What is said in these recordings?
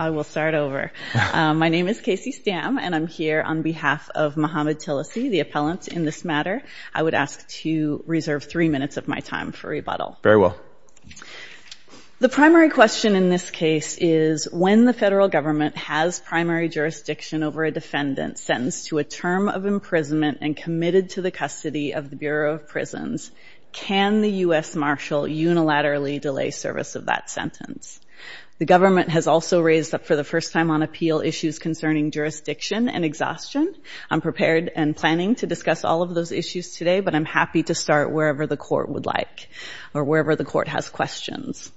I will start over. My name is Casey Stam and I'm here on behalf of Muhammed Tillisy, the appellant in this matter. I would ask to reserve three minutes of my time for rebuttal. Very well. The primary question in this case is when the federal government has primary jurisdiction over a defendant sentenced to a term of imprisonment and committed to the custody of the Bureau of Prisons, can the U.S. Marshal unilaterally delay service of that sentence? The government has also raised up for the first time on appeal issues concerning jurisdiction and exhaustion. I'm prepared and planning to discuss all of those issues today, but I'm happy to start wherever the court would like or wherever the court has questions.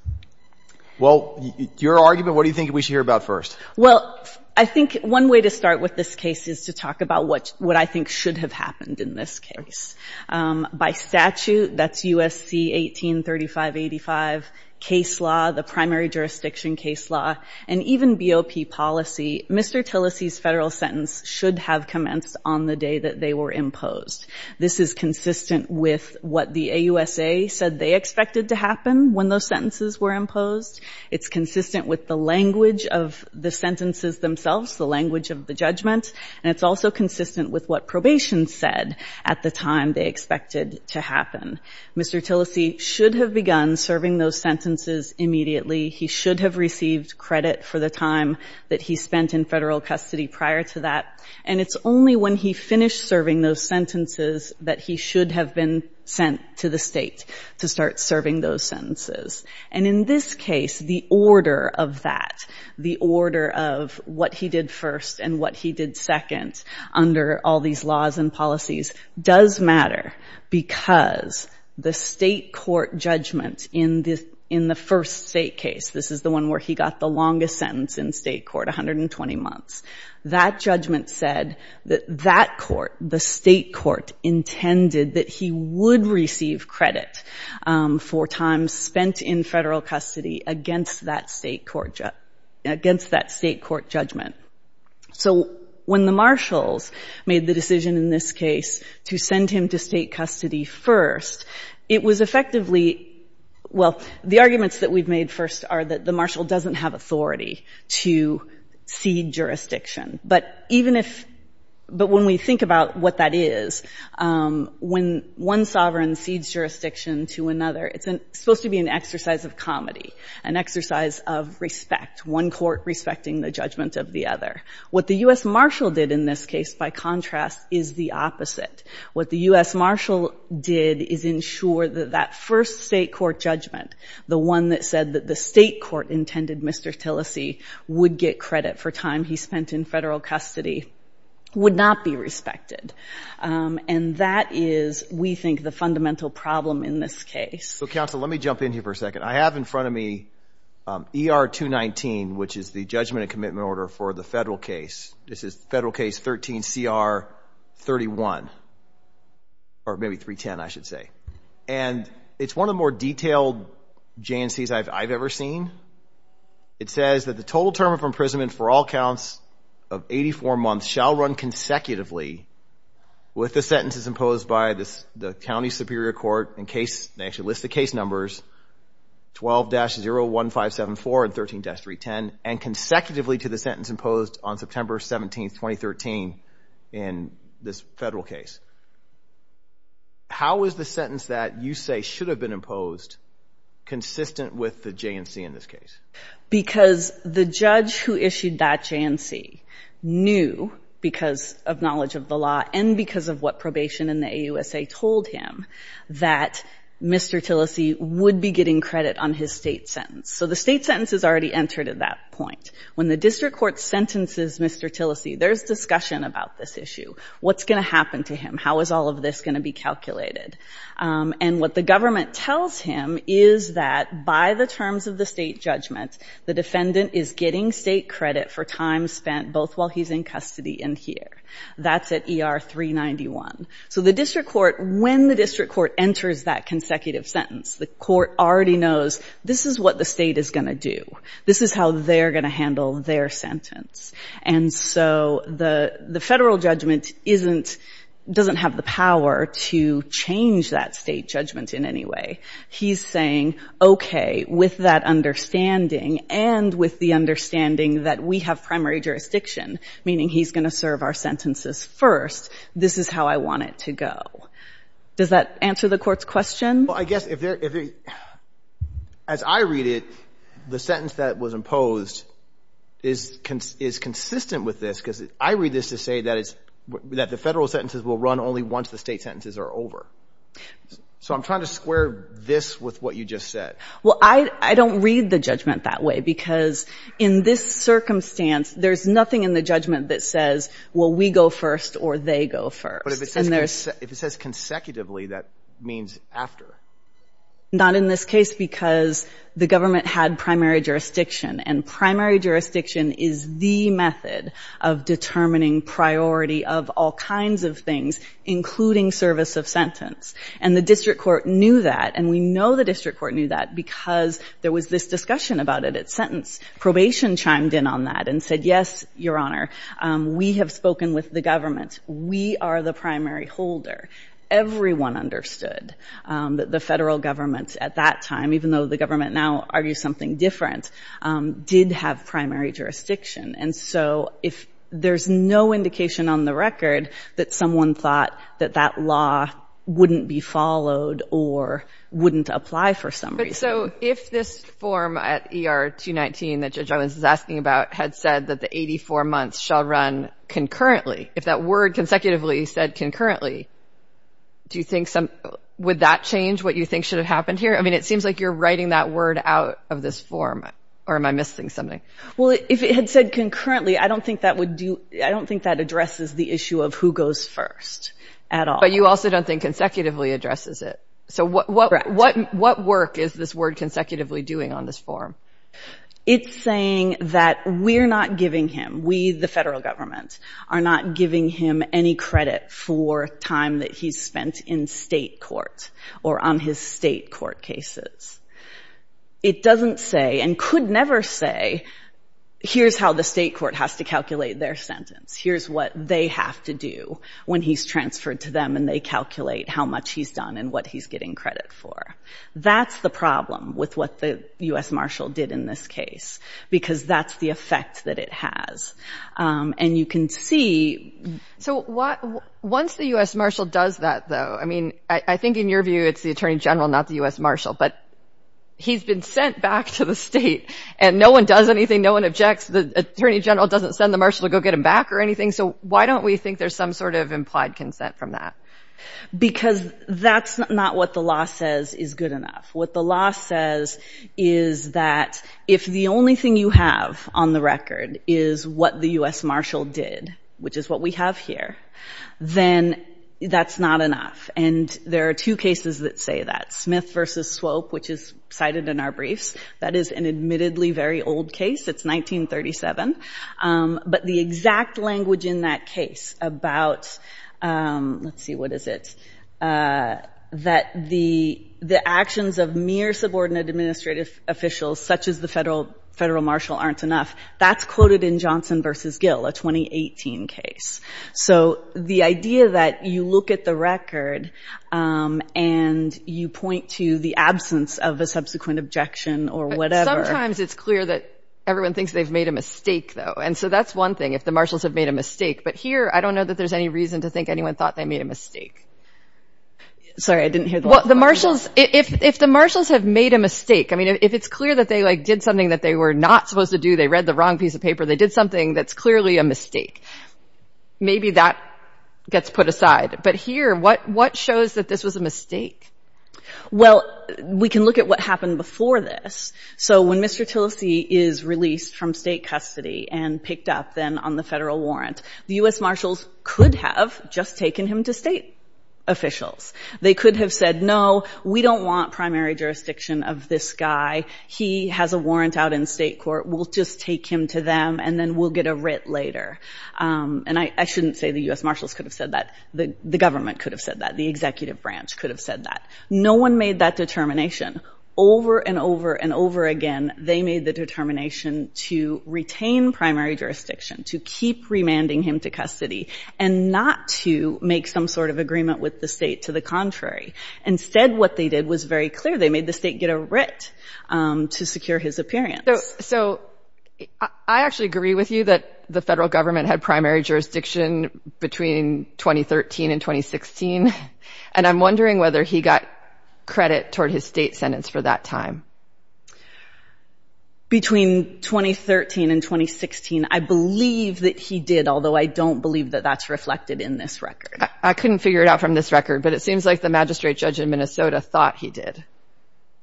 Well, your argument, what do you think we should hear about first? Well, I think one way to start with this case is to talk about what I think should have happened in this case. By statute, that's USC 183585, case law, the primary jurisdiction case law, and even BOP policy, Mr. Tillisy's federal sentence should have commenced on the day that they were imposed. This is consistent with what the AUSA said they expected to happen when those sentences were imposed. It's consistent with the language of the sentences themselves, the language of the judgment, and it's also consistent with what probation said at the time they expected to happen. Mr. Tillisy should have begun serving those sentences immediately. He should have received credit for the time that he spent in federal custody prior to that, and it's only when he finished serving those sentences that he should have been sent to the state to start serving those and what he did second under all these laws and policies does matter because the state court judgment in the first state case, this is the one where he got the longest sentence in state court, 120 months, that judgment said that that court, the state court, intended that he would receive credit for time spent in federal custody against that state court judgment. So when the marshals made the decision in this case to send him to state custody first, it was effectively, well, the arguments that we've made first are that the marshal doesn't have authority to cede jurisdiction, but even if, but when we think about what that is, when one sovereign cedes jurisdiction to another, it's supposed to be an exercise of comedy, an exercise of respect, one court respecting the judgment of the other. What the U.S. marshal did in this case, by contrast, is the opposite. What the U.S. marshal did is ensure that that first state court judgment, the one that said that the state court intended Mr. Tillesey would get credit for time he spent in federal custody, would not be respected, and that is, we think, the fundamental problem in this case. So counsel, let me jump in here for a second. I have in front of me ER 219, which is the judgment and commitment order for the federal case. This is federal case 13 CR 31, or maybe 310, I should say, and it's one of the more detailed J&Cs I've ever seen. It says that the total term of imprisonment for all counts of 84 months shall run consecutively with the sentences imposed by this, the county superior court, in case they actually list the case numbers 12-01574 and 13-310, and consecutively to the sentence imposed on September 17, 2013 in this federal case. How is the sentence that you say should have been imposed consistent with the J&C in this case? Because the judge who issued that J&C knew because of knowledge of the law and because of what probation in the AUSA told him that Mr. Tillese would be getting credit on his state sentence. So the state sentence is already entered at that point. When the district court sentences Mr. Tillese, there's discussion about this issue. What's going to happen to him? How is all of this going to be calculated? And what the government tells him is that by the terms of the state judgment, the defendant is getting state credit for time spent both while he's in custody and here. That's at ER 391. So when the district court enters that consecutive sentence, the court already knows this is what the state is going to do. This is how they're going to handle their sentence. And so the federal judgment doesn't have the power to change that state judgment in any way. He's saying, okay, with that understanding and with the understanding that we have primary jurisdiction, meaning he's going to serve our sentences first, this is how I want it to go. Does that answer the court's question? Well, I guess as I read it, the sentence that was imposed is consistent with this because I read this to say that the federal sentences will run only once the state sentences are over. So I'm trying to square this with what you just said. Well, I don't read the judgment that way because in this circumstance, there's nothing in the judgment that says, well, we go first or they go first. But if it says consecutively, that means after. Not in this case because the government had primary jurisdiction. And primary jurisdiction is the method of determining priority of all kinds of things, including service of sentence. And the district court knew that. And we know the district court knew that because there was this discussion about it at sentence. Probation chimed in on that and said, yes, Your Honor, we have spoken with the government. We are the primary holder. Everyone understood that the federal government at that time, even though the government now argues something different, did have primary jurisdiction. And so if there's no indication on the record that someone thought that that law wouldn't be followed or wouldn't apply for some reason. But so if this form at ER 219 that Judge Owens is asking about had said that the 84 months shall run concurrently, if that word consecutively said concurrently, do you think some would that change what you think should have happened here? I mean, it seems like you're writing that word out of this form. Or am I missing something? Well, if it had said concurrently, I don't think that would do. I don't think that addresses the issue of who goes first at all. You also don't think consecutively addresses it. So what what what what what work is this word consecutively doing on this form? It's saying that we're not giving him, we, the federal government, are not giving him any credit for time that he's spent in state court or on his state court cases. It doesn't say and could never say, here's how the state court has to calculate their sentence. Here's what they have to do when he's transferred to them and they calculate how much he's done and what he's getting credit for. That's the problem with what the U.S. Marshal did in this case, because that's the effect that it has. And you can see. So what once the U.S. Marshal does that, though, I mean, I think in your view, it's the attorney general, not the U.S. Marshal, but he's been sent back to the state and no one does anything. No one objects. The attorney general doesn't send the Marshal to go get him back or anything. So why don't we think there's some sort of implied consent from that? Because that's not what the law says is good enough. What the law says is that if the only thing you have on the record is what the U.S. Marshal did, which is what we have here, then that's not enough. And there are two cases that say that Smith versus Swope, which is admittedly a very old case, it's 1937. But the exact language in that case about, let's see, what is it? That the actions of mere subordinate administrative officials, such as the federal federal marshal, aren't enough. That's quoted in Johnson versus Gill, a 2018 case. So the idea that you look at the record and you point to the absence of a subsequent objection or whatever. Sometimes it's clear that everyone thinks they've made a mistake, though. And so that's one thing, if the marshals have made a mistake. But here, I don't know that there's any reason to think anyone thought they made a mistake. Sorry, I didn't hear. Well, the marshals, if the marshals have made a mistake, I mean, if it's clear that they did something that they were not supposed to do, they read the wrong piece of paper, they did something that's clearly a mistake. Maybe that gets put aside. But here, what shows that this was a mistake? Well, we can look at what happened before this. So when Mr. Tillese is released from state custody and picked up then on the federal warrant, the U.S. marshals could have just taken him to state officials. They could have said, no, we don't want primary jurisdiction of this guy. He has a warrant out in state court. We'll just take him to them and then we'll get a writ later. And I shouldn't say the U.S. marshals could have said that. The government could have said that. The executive branch could have said that. No one made that determination. Over and over and over again, they made the determination to retain primary jurisdiction, to keep remanding him to custody, and not to make some sort of agreement with the state to the contrary. Instead, what they did was very clear. They made the state get a writ to secure his appearance. So I actually agree with you that the federal government had primary jurisdiction between 2013 and 2016, and I'm wondering whether he got credit toward his state sentence for that time. Between 2013 and 2016, I believe that he did, although I don't believe that that's reflected in this record. I couldn't figure it out from this record, but it seems like the magistrate judge in Minnesota thought he did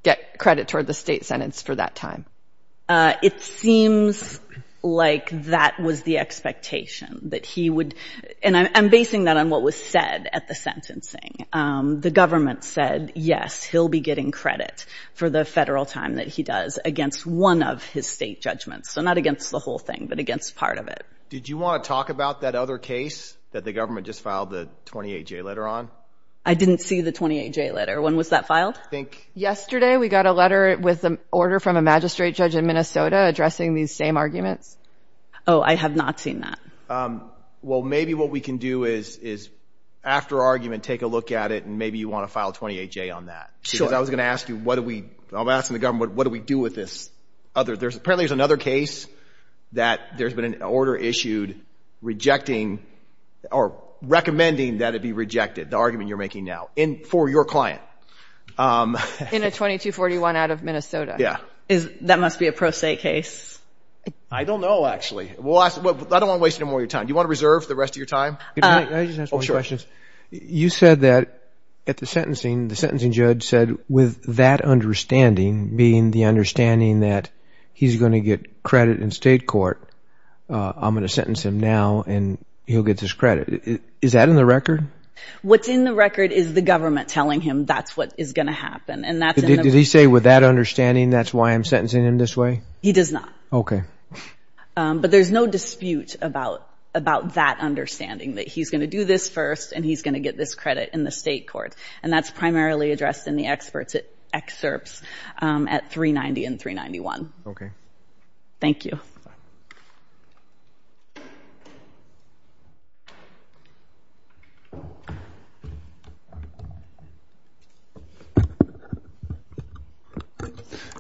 get credit toward the state sentence for that time. It seems like that was the expectation that he would, and I'm basing that on what was said at the sentencing. The government said, yes, he'll be getting credit for the federal time that he does against one of his state judgments. So not against the whole thing, but against part of it. Did you want to talk about that other case that the government just filed the 28-J letter on? I didn't see the 28-J letter. When was that filed? Yesterday, we got a letter with an order from a magistrate judge in Minnesota addressing these same arguments. Oh, I have not seen that. Well, maybe what we can do is after argument, take a look at it, and maybe you want to file 28-J on that. Because I was going to ask you, I'm asking the government, what do we do with this? Apparently there's another case that there's been an order issued rejecting or recommending that it be rejected, the argument you're making now, for your client. In a 2241 out of Minnesota. Yeah. That must be a pro se case. I don't know, actually. I don't want to waste any more of your time. Do you want to reserve the rest of your time? You said that at the sentencing, the sentencing judge said, with that understanding, being the understanding that he's going to get credit in state court, I'm going to sentence him and he'll get his credit. Is that in the record? What's in the record is the government telling him that's what is going to happen. Did he say with that understanding, that's why I'm sentencing him this way? He does not. Okay. But there's no dispute about that understanding, that he's going to do this first and he's going to get this credit in the state court. And that's primarily addressed in the excerpts at 390 and 391. Okay. Thank you.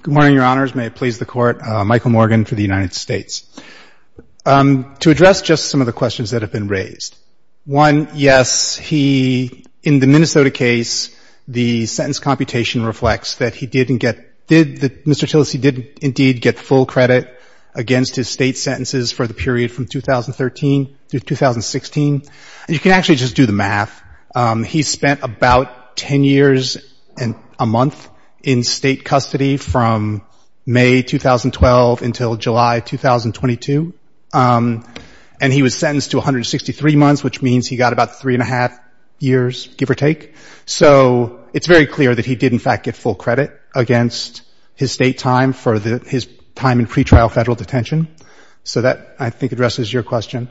Good morning, your honors. May it please the court. Michael Morgan for the United States. To address just some of the questions that have been raised. One, yes, he, in the Minnesota case, the sentence computation reflects that he didn't get, that Mr. Tillis, he did indeed get full credit against his state sentences for the period from 2013 to 2016. And you can actually just do the math. He spent about 10 years and a month in state custody from May, 2012 until July, 2022. And he was sentenced to 163 months, which means he got about three and a half years, give or take. So it's very clear that he did in fact get full credit against his state time for his time in pretrial federal detention. So that I think addresses your question.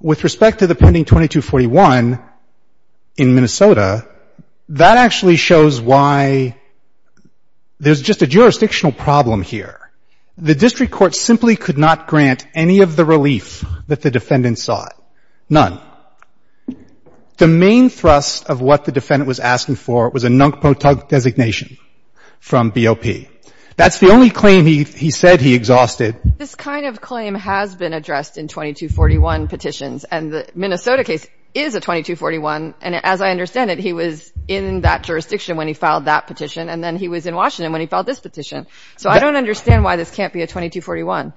With respect to the pending 2241 in Minnesota, that actually shows why there's just a jurisdictional problem here. The district court simply could not grant any of the relief that the defendants sought. None. The main thrust of what the defendant was asking for was a NUNCPOTUG designation from BOP. That's the only claim he said he exhausted. This kind of claim has been addressed in 2241 petitions. And the Minnesota case is a 2241. And as I understand it, he was in that jurisdiction when he filed that petition. And then he was in Washington when he filed this petition. So I don't understand why this can't be a 2241.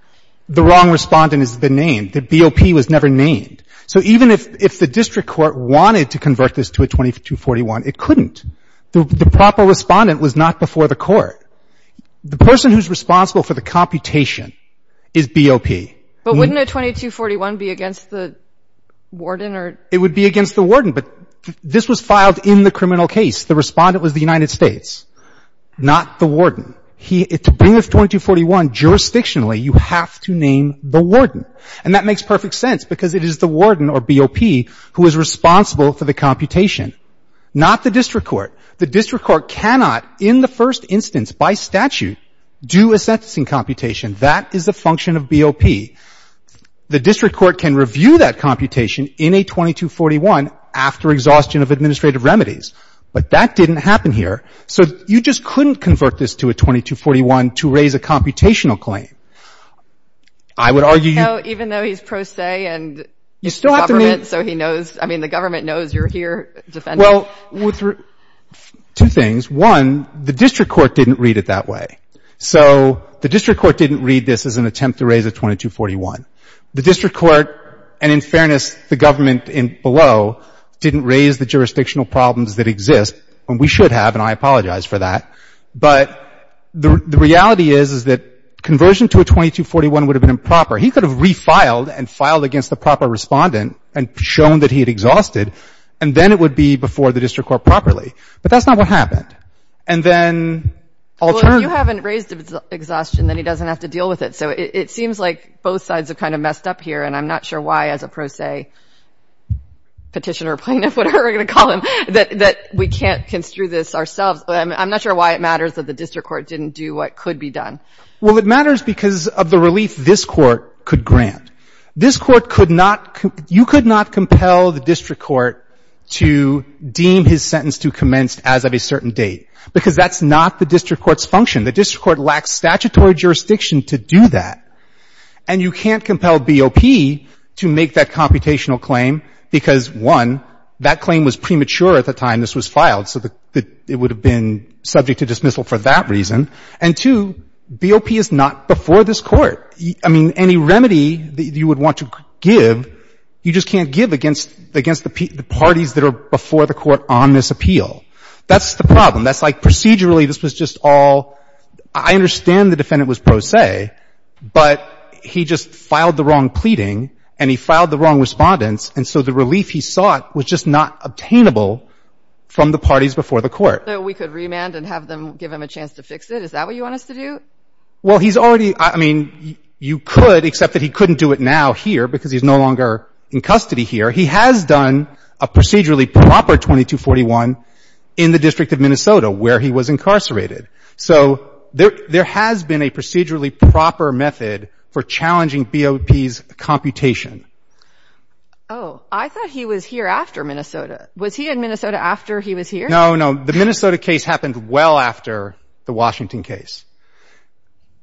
The wrong respondent has been named. The BOP was never named. So even if the district court wanted to convert this to a 2241, it couldn't. The proper respondent was not before the court. The person who's responsible for the computation is BOP. But wouldn't a 2241 be against the warden? It would be against the warden. But this was filed in the criminal case. The respondent was the United States, not the warden. To bring a 2241 jurisdictionally, you have to name the warden. And that makes perfect sense because it is the warden or BOP who is responsible for the computation, not the district court. The district court cannot, in the first instance by statute, do a sentencing computation. That is the function of BOP. The district court can review that computation in a 2241 after exhaustion of administrative remedies. But that didn't happen here. So you just couldn't convert this to a 2241 to even though he's pro se and the government knows you're here defending. Well, two things. One, the district court didn't read it that way. So the district court didn't read this as an attempt to raise a 2241. The district court, and in fairness, the government below, didn't raise the jurisdictional problems that exist, and we should have, and I apologize for that. But the reality is that conversion to a 2241 would have been improper. He could have refiled and filed against the proper respondent, and shown that he had exhausted, and then it would be before the district court properly. But that's not what happened. And then... Well, if you haven't raised exhaustion, then he doesn't have to deal with it. So it seems like both sides are kind of messed up here, and I'm not sure why as a pro se petitioner, plaintiff, whatever we're going to call him, that we can't construe this ourselves. I'm not sure why it matters that the district court didn't do what could be done. Well, it matters because of the relief this Court could grant. This Court could not — you could not compel the district court to deem his sentence to commence as of a certain date, because that's not the district court's function. The district court lacks statutory jurisdiction to do that. And you can't compel BOP to make that computational claim, because, one, that claim was premature at the time this was filed, so it would have been subject to dismissal for that reason. And, two, BOP is not before this Court. I mean, any remedy that you would want to give, you just can't give against the parties that are before the Court on this appeal. That's the problem. That's like procedurally, this was just all — I understand the defendant was pro se, but he just filed the wrong pleading, and he filed the wrong respondents, and so the relief he sought was just not obtainable from the parties before the Court. So we could remand and have them — give them a chance to fix it? Is that what you want us to do? Well, he's already — I mean, you could, except that he couldn't do it now here, because he's no longer in custody here. He has done a procedurally proper 2241 in the District of Minnesota, where he was incarcerated. So there has been a procedurally proper method for challenging BOP's computation. Oh. I thought he was here after Minnesota. Was he in Minnesota after he was here? No, no. The Minnesota case happened well after the Washington case.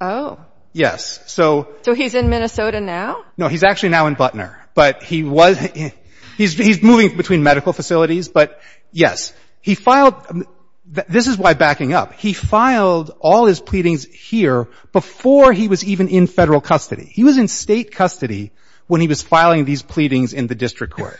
Oh. Yes. So — So he's in Minnesota now? No, he's actually now in Butner. But he was — he's moving between medical facilities, but yes, he filed — this is why backing up. He filed all his pleadings here before he was even in Federal custody. He was in State custody when he was filing these pleadings in the District Court.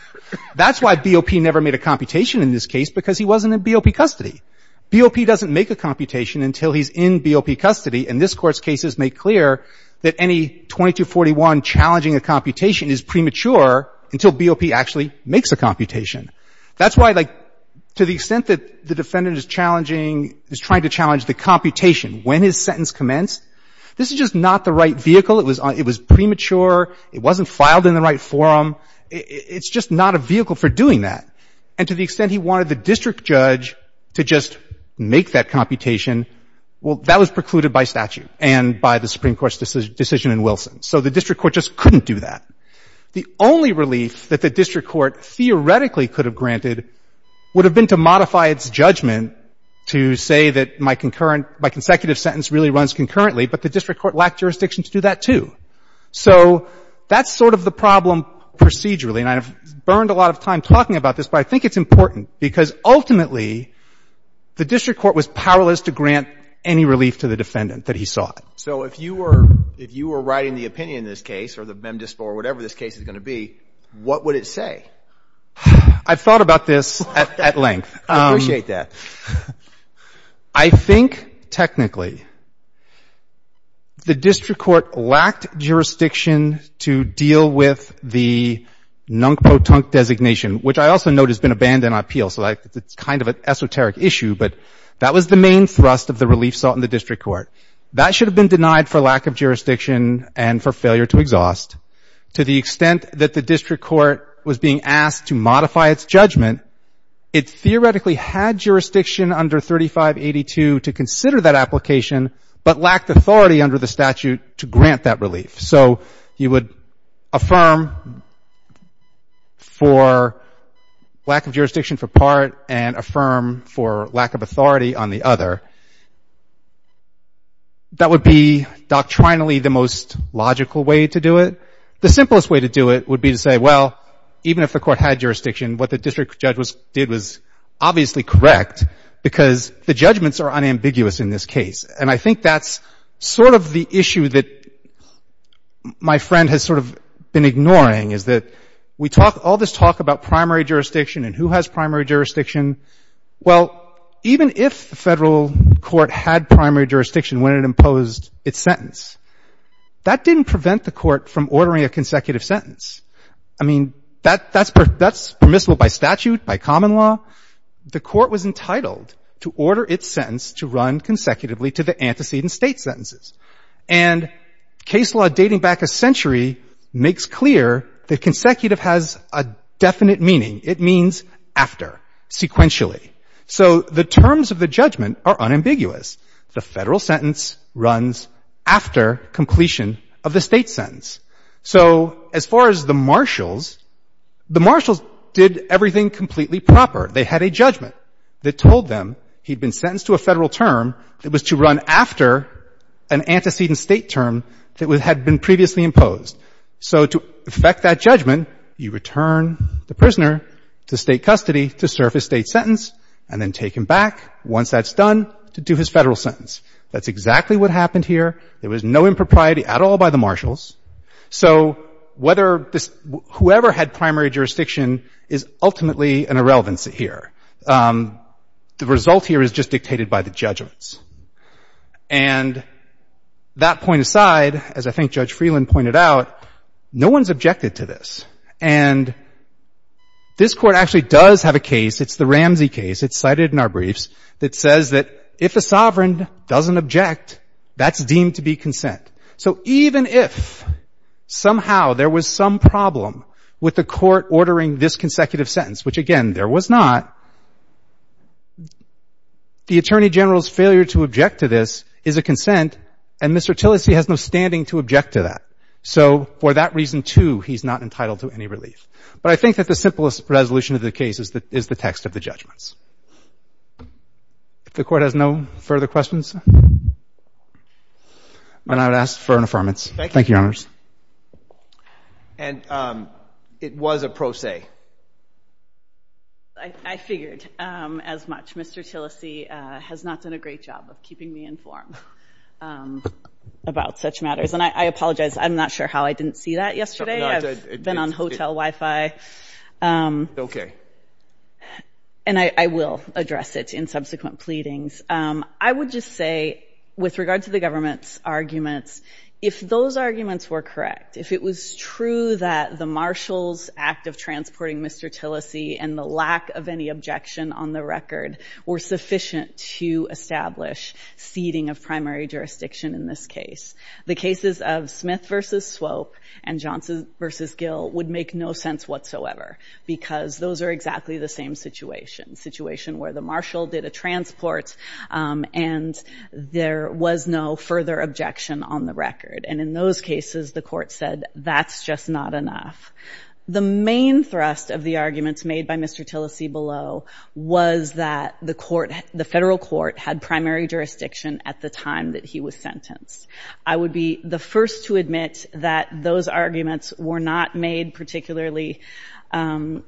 That's why BOP never made a computation in this case, because he wasn't in BOP custody. BOP doesn't make a computation until he's in BOP custody. And this Court's cases make clear that any 2241 challenging a computation is premature until BOP actually makes a computation. That's why, like, to the extent that the defendant is challenging — is trying to challenge the computation when his sentence commenced, this is just not the right vehicle. It was premature. It wasn't filed in the right forum. It's just not a vehicle for doing that. And to the extent he wanted the District Judge to just make that computation, well, that was precluded by statute and by the Supreme Court's decision in Wilson. So the District Court just couldn't do that. The only relief that the District Court theoretically could have granted would have been to modify its judgment to say that my concurrent — my consecutive sentence really runs concurrently, but the District Court lacked jurisdiction to do that, too. So that's sort of the problem procedurally. And I've burned a lot of time talking about this, but I think it's important because, ultimately, the District Court was powerless to grant any relief to the defendant that he sought. So if you were — if you were writing the opinion in this case, or the mem dispo, or whatever this case is going to be, what would it say? I've thought about this at length. I appreciate that. I think, technically, the District Court lacked jurisdiction to deal with the designation, which I also note has been abandoned on appeal, so it's kind of an esoteric issue, but that was the main thrust of the relief sought in the District Court. That should have been denied for lack of jurisdiction and for failure to exhaust. To the extent that the District Court was being asked to modify its judgment, it theoretically had jurisdiction under 3582 to consider that application, but lacked authority under the statute to grant that relief. So you would affirm for lack of jurisdiction for part, and affirm for lack of authority on the other. That would be, doctrinally, the most logical way to do it. The simplest way to do it would be to say, well, even if the Court had jurisdiction, what the District Judge did was obviously correct, because the judgments are unambiguous in this case. And I think that's sort of the issue that my friend has sort of been ignoring, is that we talk all this talk about primary jurisdiction and who has primary jurisdiction. Well, even if the Federal Court had primary jurisdiction when it imposed its sentence, that didn't prevent the Court from ordering a consecutive sentence. I mean, that's permissible by statute, by common law. The Court was entitled to order its sentence to run consecutively to the antecedent State sentences. And case law dating back a century makes clear that consecutive has a definite meaning. It means after, sequentially. So the terms of the judgment are unambiguous. The Federal sentence runs after completion of the State sentence. So as far as the marshals, the marshals did everything completely proper. They had a judgment that told them he'd been sentenced to a Federal term that was to run after an antecedent State term that had been previously imposed. So to effect that judgment, you return the prisoner to State custody to serve his State sentence, and then take him back, once that's done, to do his Federal sentence. That's exactly what happened here. There was no impropriety at all by the marshals. So whoever had primary jurisdiction is ultimately an irrelevance here. The result here is just dictated by the judgments. And that point aside, as I think Judge Freeland pointed out, no one's objected to this. And this Court actually does have a case. It's the Ramsey case. It's cited in our briefs. It says that if a sovereign doesn't object, that's deemed to be consent. So even if somehow there was some problem with the Court ordering this consecutive sentence, which, again, there was not, the Attorney General's failure to object to this is a consent, and Mr. Tillis, he has no standing to object to that. So for that reason, too, he's not entitled to any relief. But I think that the simplest resolution of the case is the text of the judgments. If the Court has no further questions? And I would ask for an affirmance. Thank you, Your Honors. And it was a pro se. I figured as much. Mr. Tillis has not done a great job of keeping me informed about such matters. And I apologize. I'm not sure how I didn't see that yesterday. I've been on hotel Wi-Fi. And I will address it in subsequent pleadings. I would just say, with regard to the government's arguments, if those arguments were correct, if it was true that the Marshal's act of transporting Mr. Tillis and the lack of any objection on the record were sufficient to establish seating of primary jurisdiction in this case, the cases of Smith v. Swope and Johnson v. Gill would make no sense whatsoever, because those are exactly the same situation. Situation where the Marshal did a transport and there was no further objection on the record. And in those cases, the Court said, that's just not enough. The main thrust of the arguments made by Mr. Tillis below was that the Court, the Federal Court had primary jurisdiction at the time that he was sentenced. I would be the first to admit that those arguments were not made particularly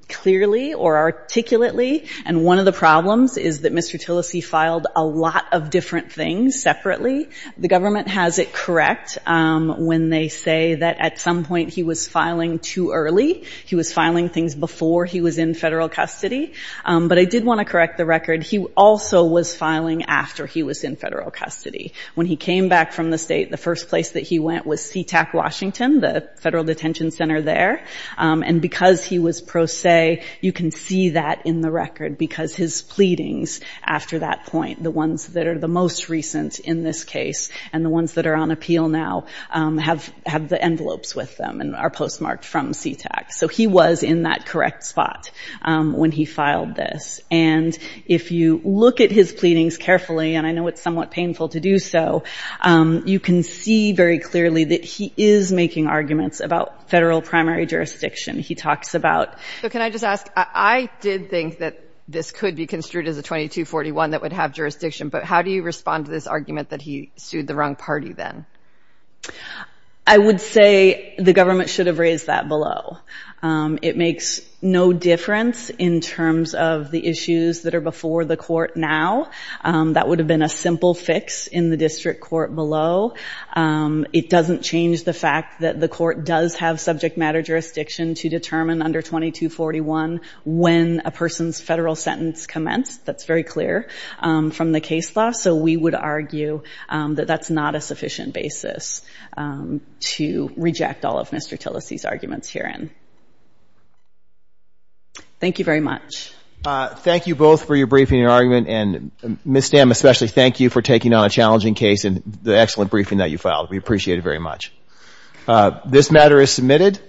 clearly or articulately and one of the problems is that Mr. Tillis filed a lot of different things separately. The government has it correct when they say that at some point he was filing too early. He was filing things before he was in federal custody. But I did want to correct the record. He also was filing after he was in federal custody. When he came back from the state, the first place that he went was SeaTac Washington, the federal detention center there. And because he was pro se, you can see that in the record. Because his pleadings after that point, the ones that are the most recent in this case, and the ones that are on appeal now, have the envelopes with them and are postmarked from SeaTac. So he was in that correct spot when he filed this. And if you look at his pleadings carefully, and I know it's somewhat painful to do so, you can see very clearly that he is making arguments about federal primary jurisdiction. He talks about... So can I just ask, I did think that this could be construed as a 2241 that would have jurisdiction, but how do you respond to this argument that he sued the wrong party then? I would say the government should have raised that below. It makes no difference in terms of the issues that are before the court now. That would have been a simple fix in the district court below. It doesn't change the fact that the court does have subject matter jurisdiction to determine under 2241 when a person's federal sentence commenced. That's very clear from the case law. So we would argue that that's not a sufficient basis to reject all of Mr. Tillis's arguments herein. Thank you very much. Thank you both for your briefing and argument. And Ms. Stamm, especially, thank you for taking on a challenging case and the excellent briefing that you filed. We appreciate it very much. This matter is submitted.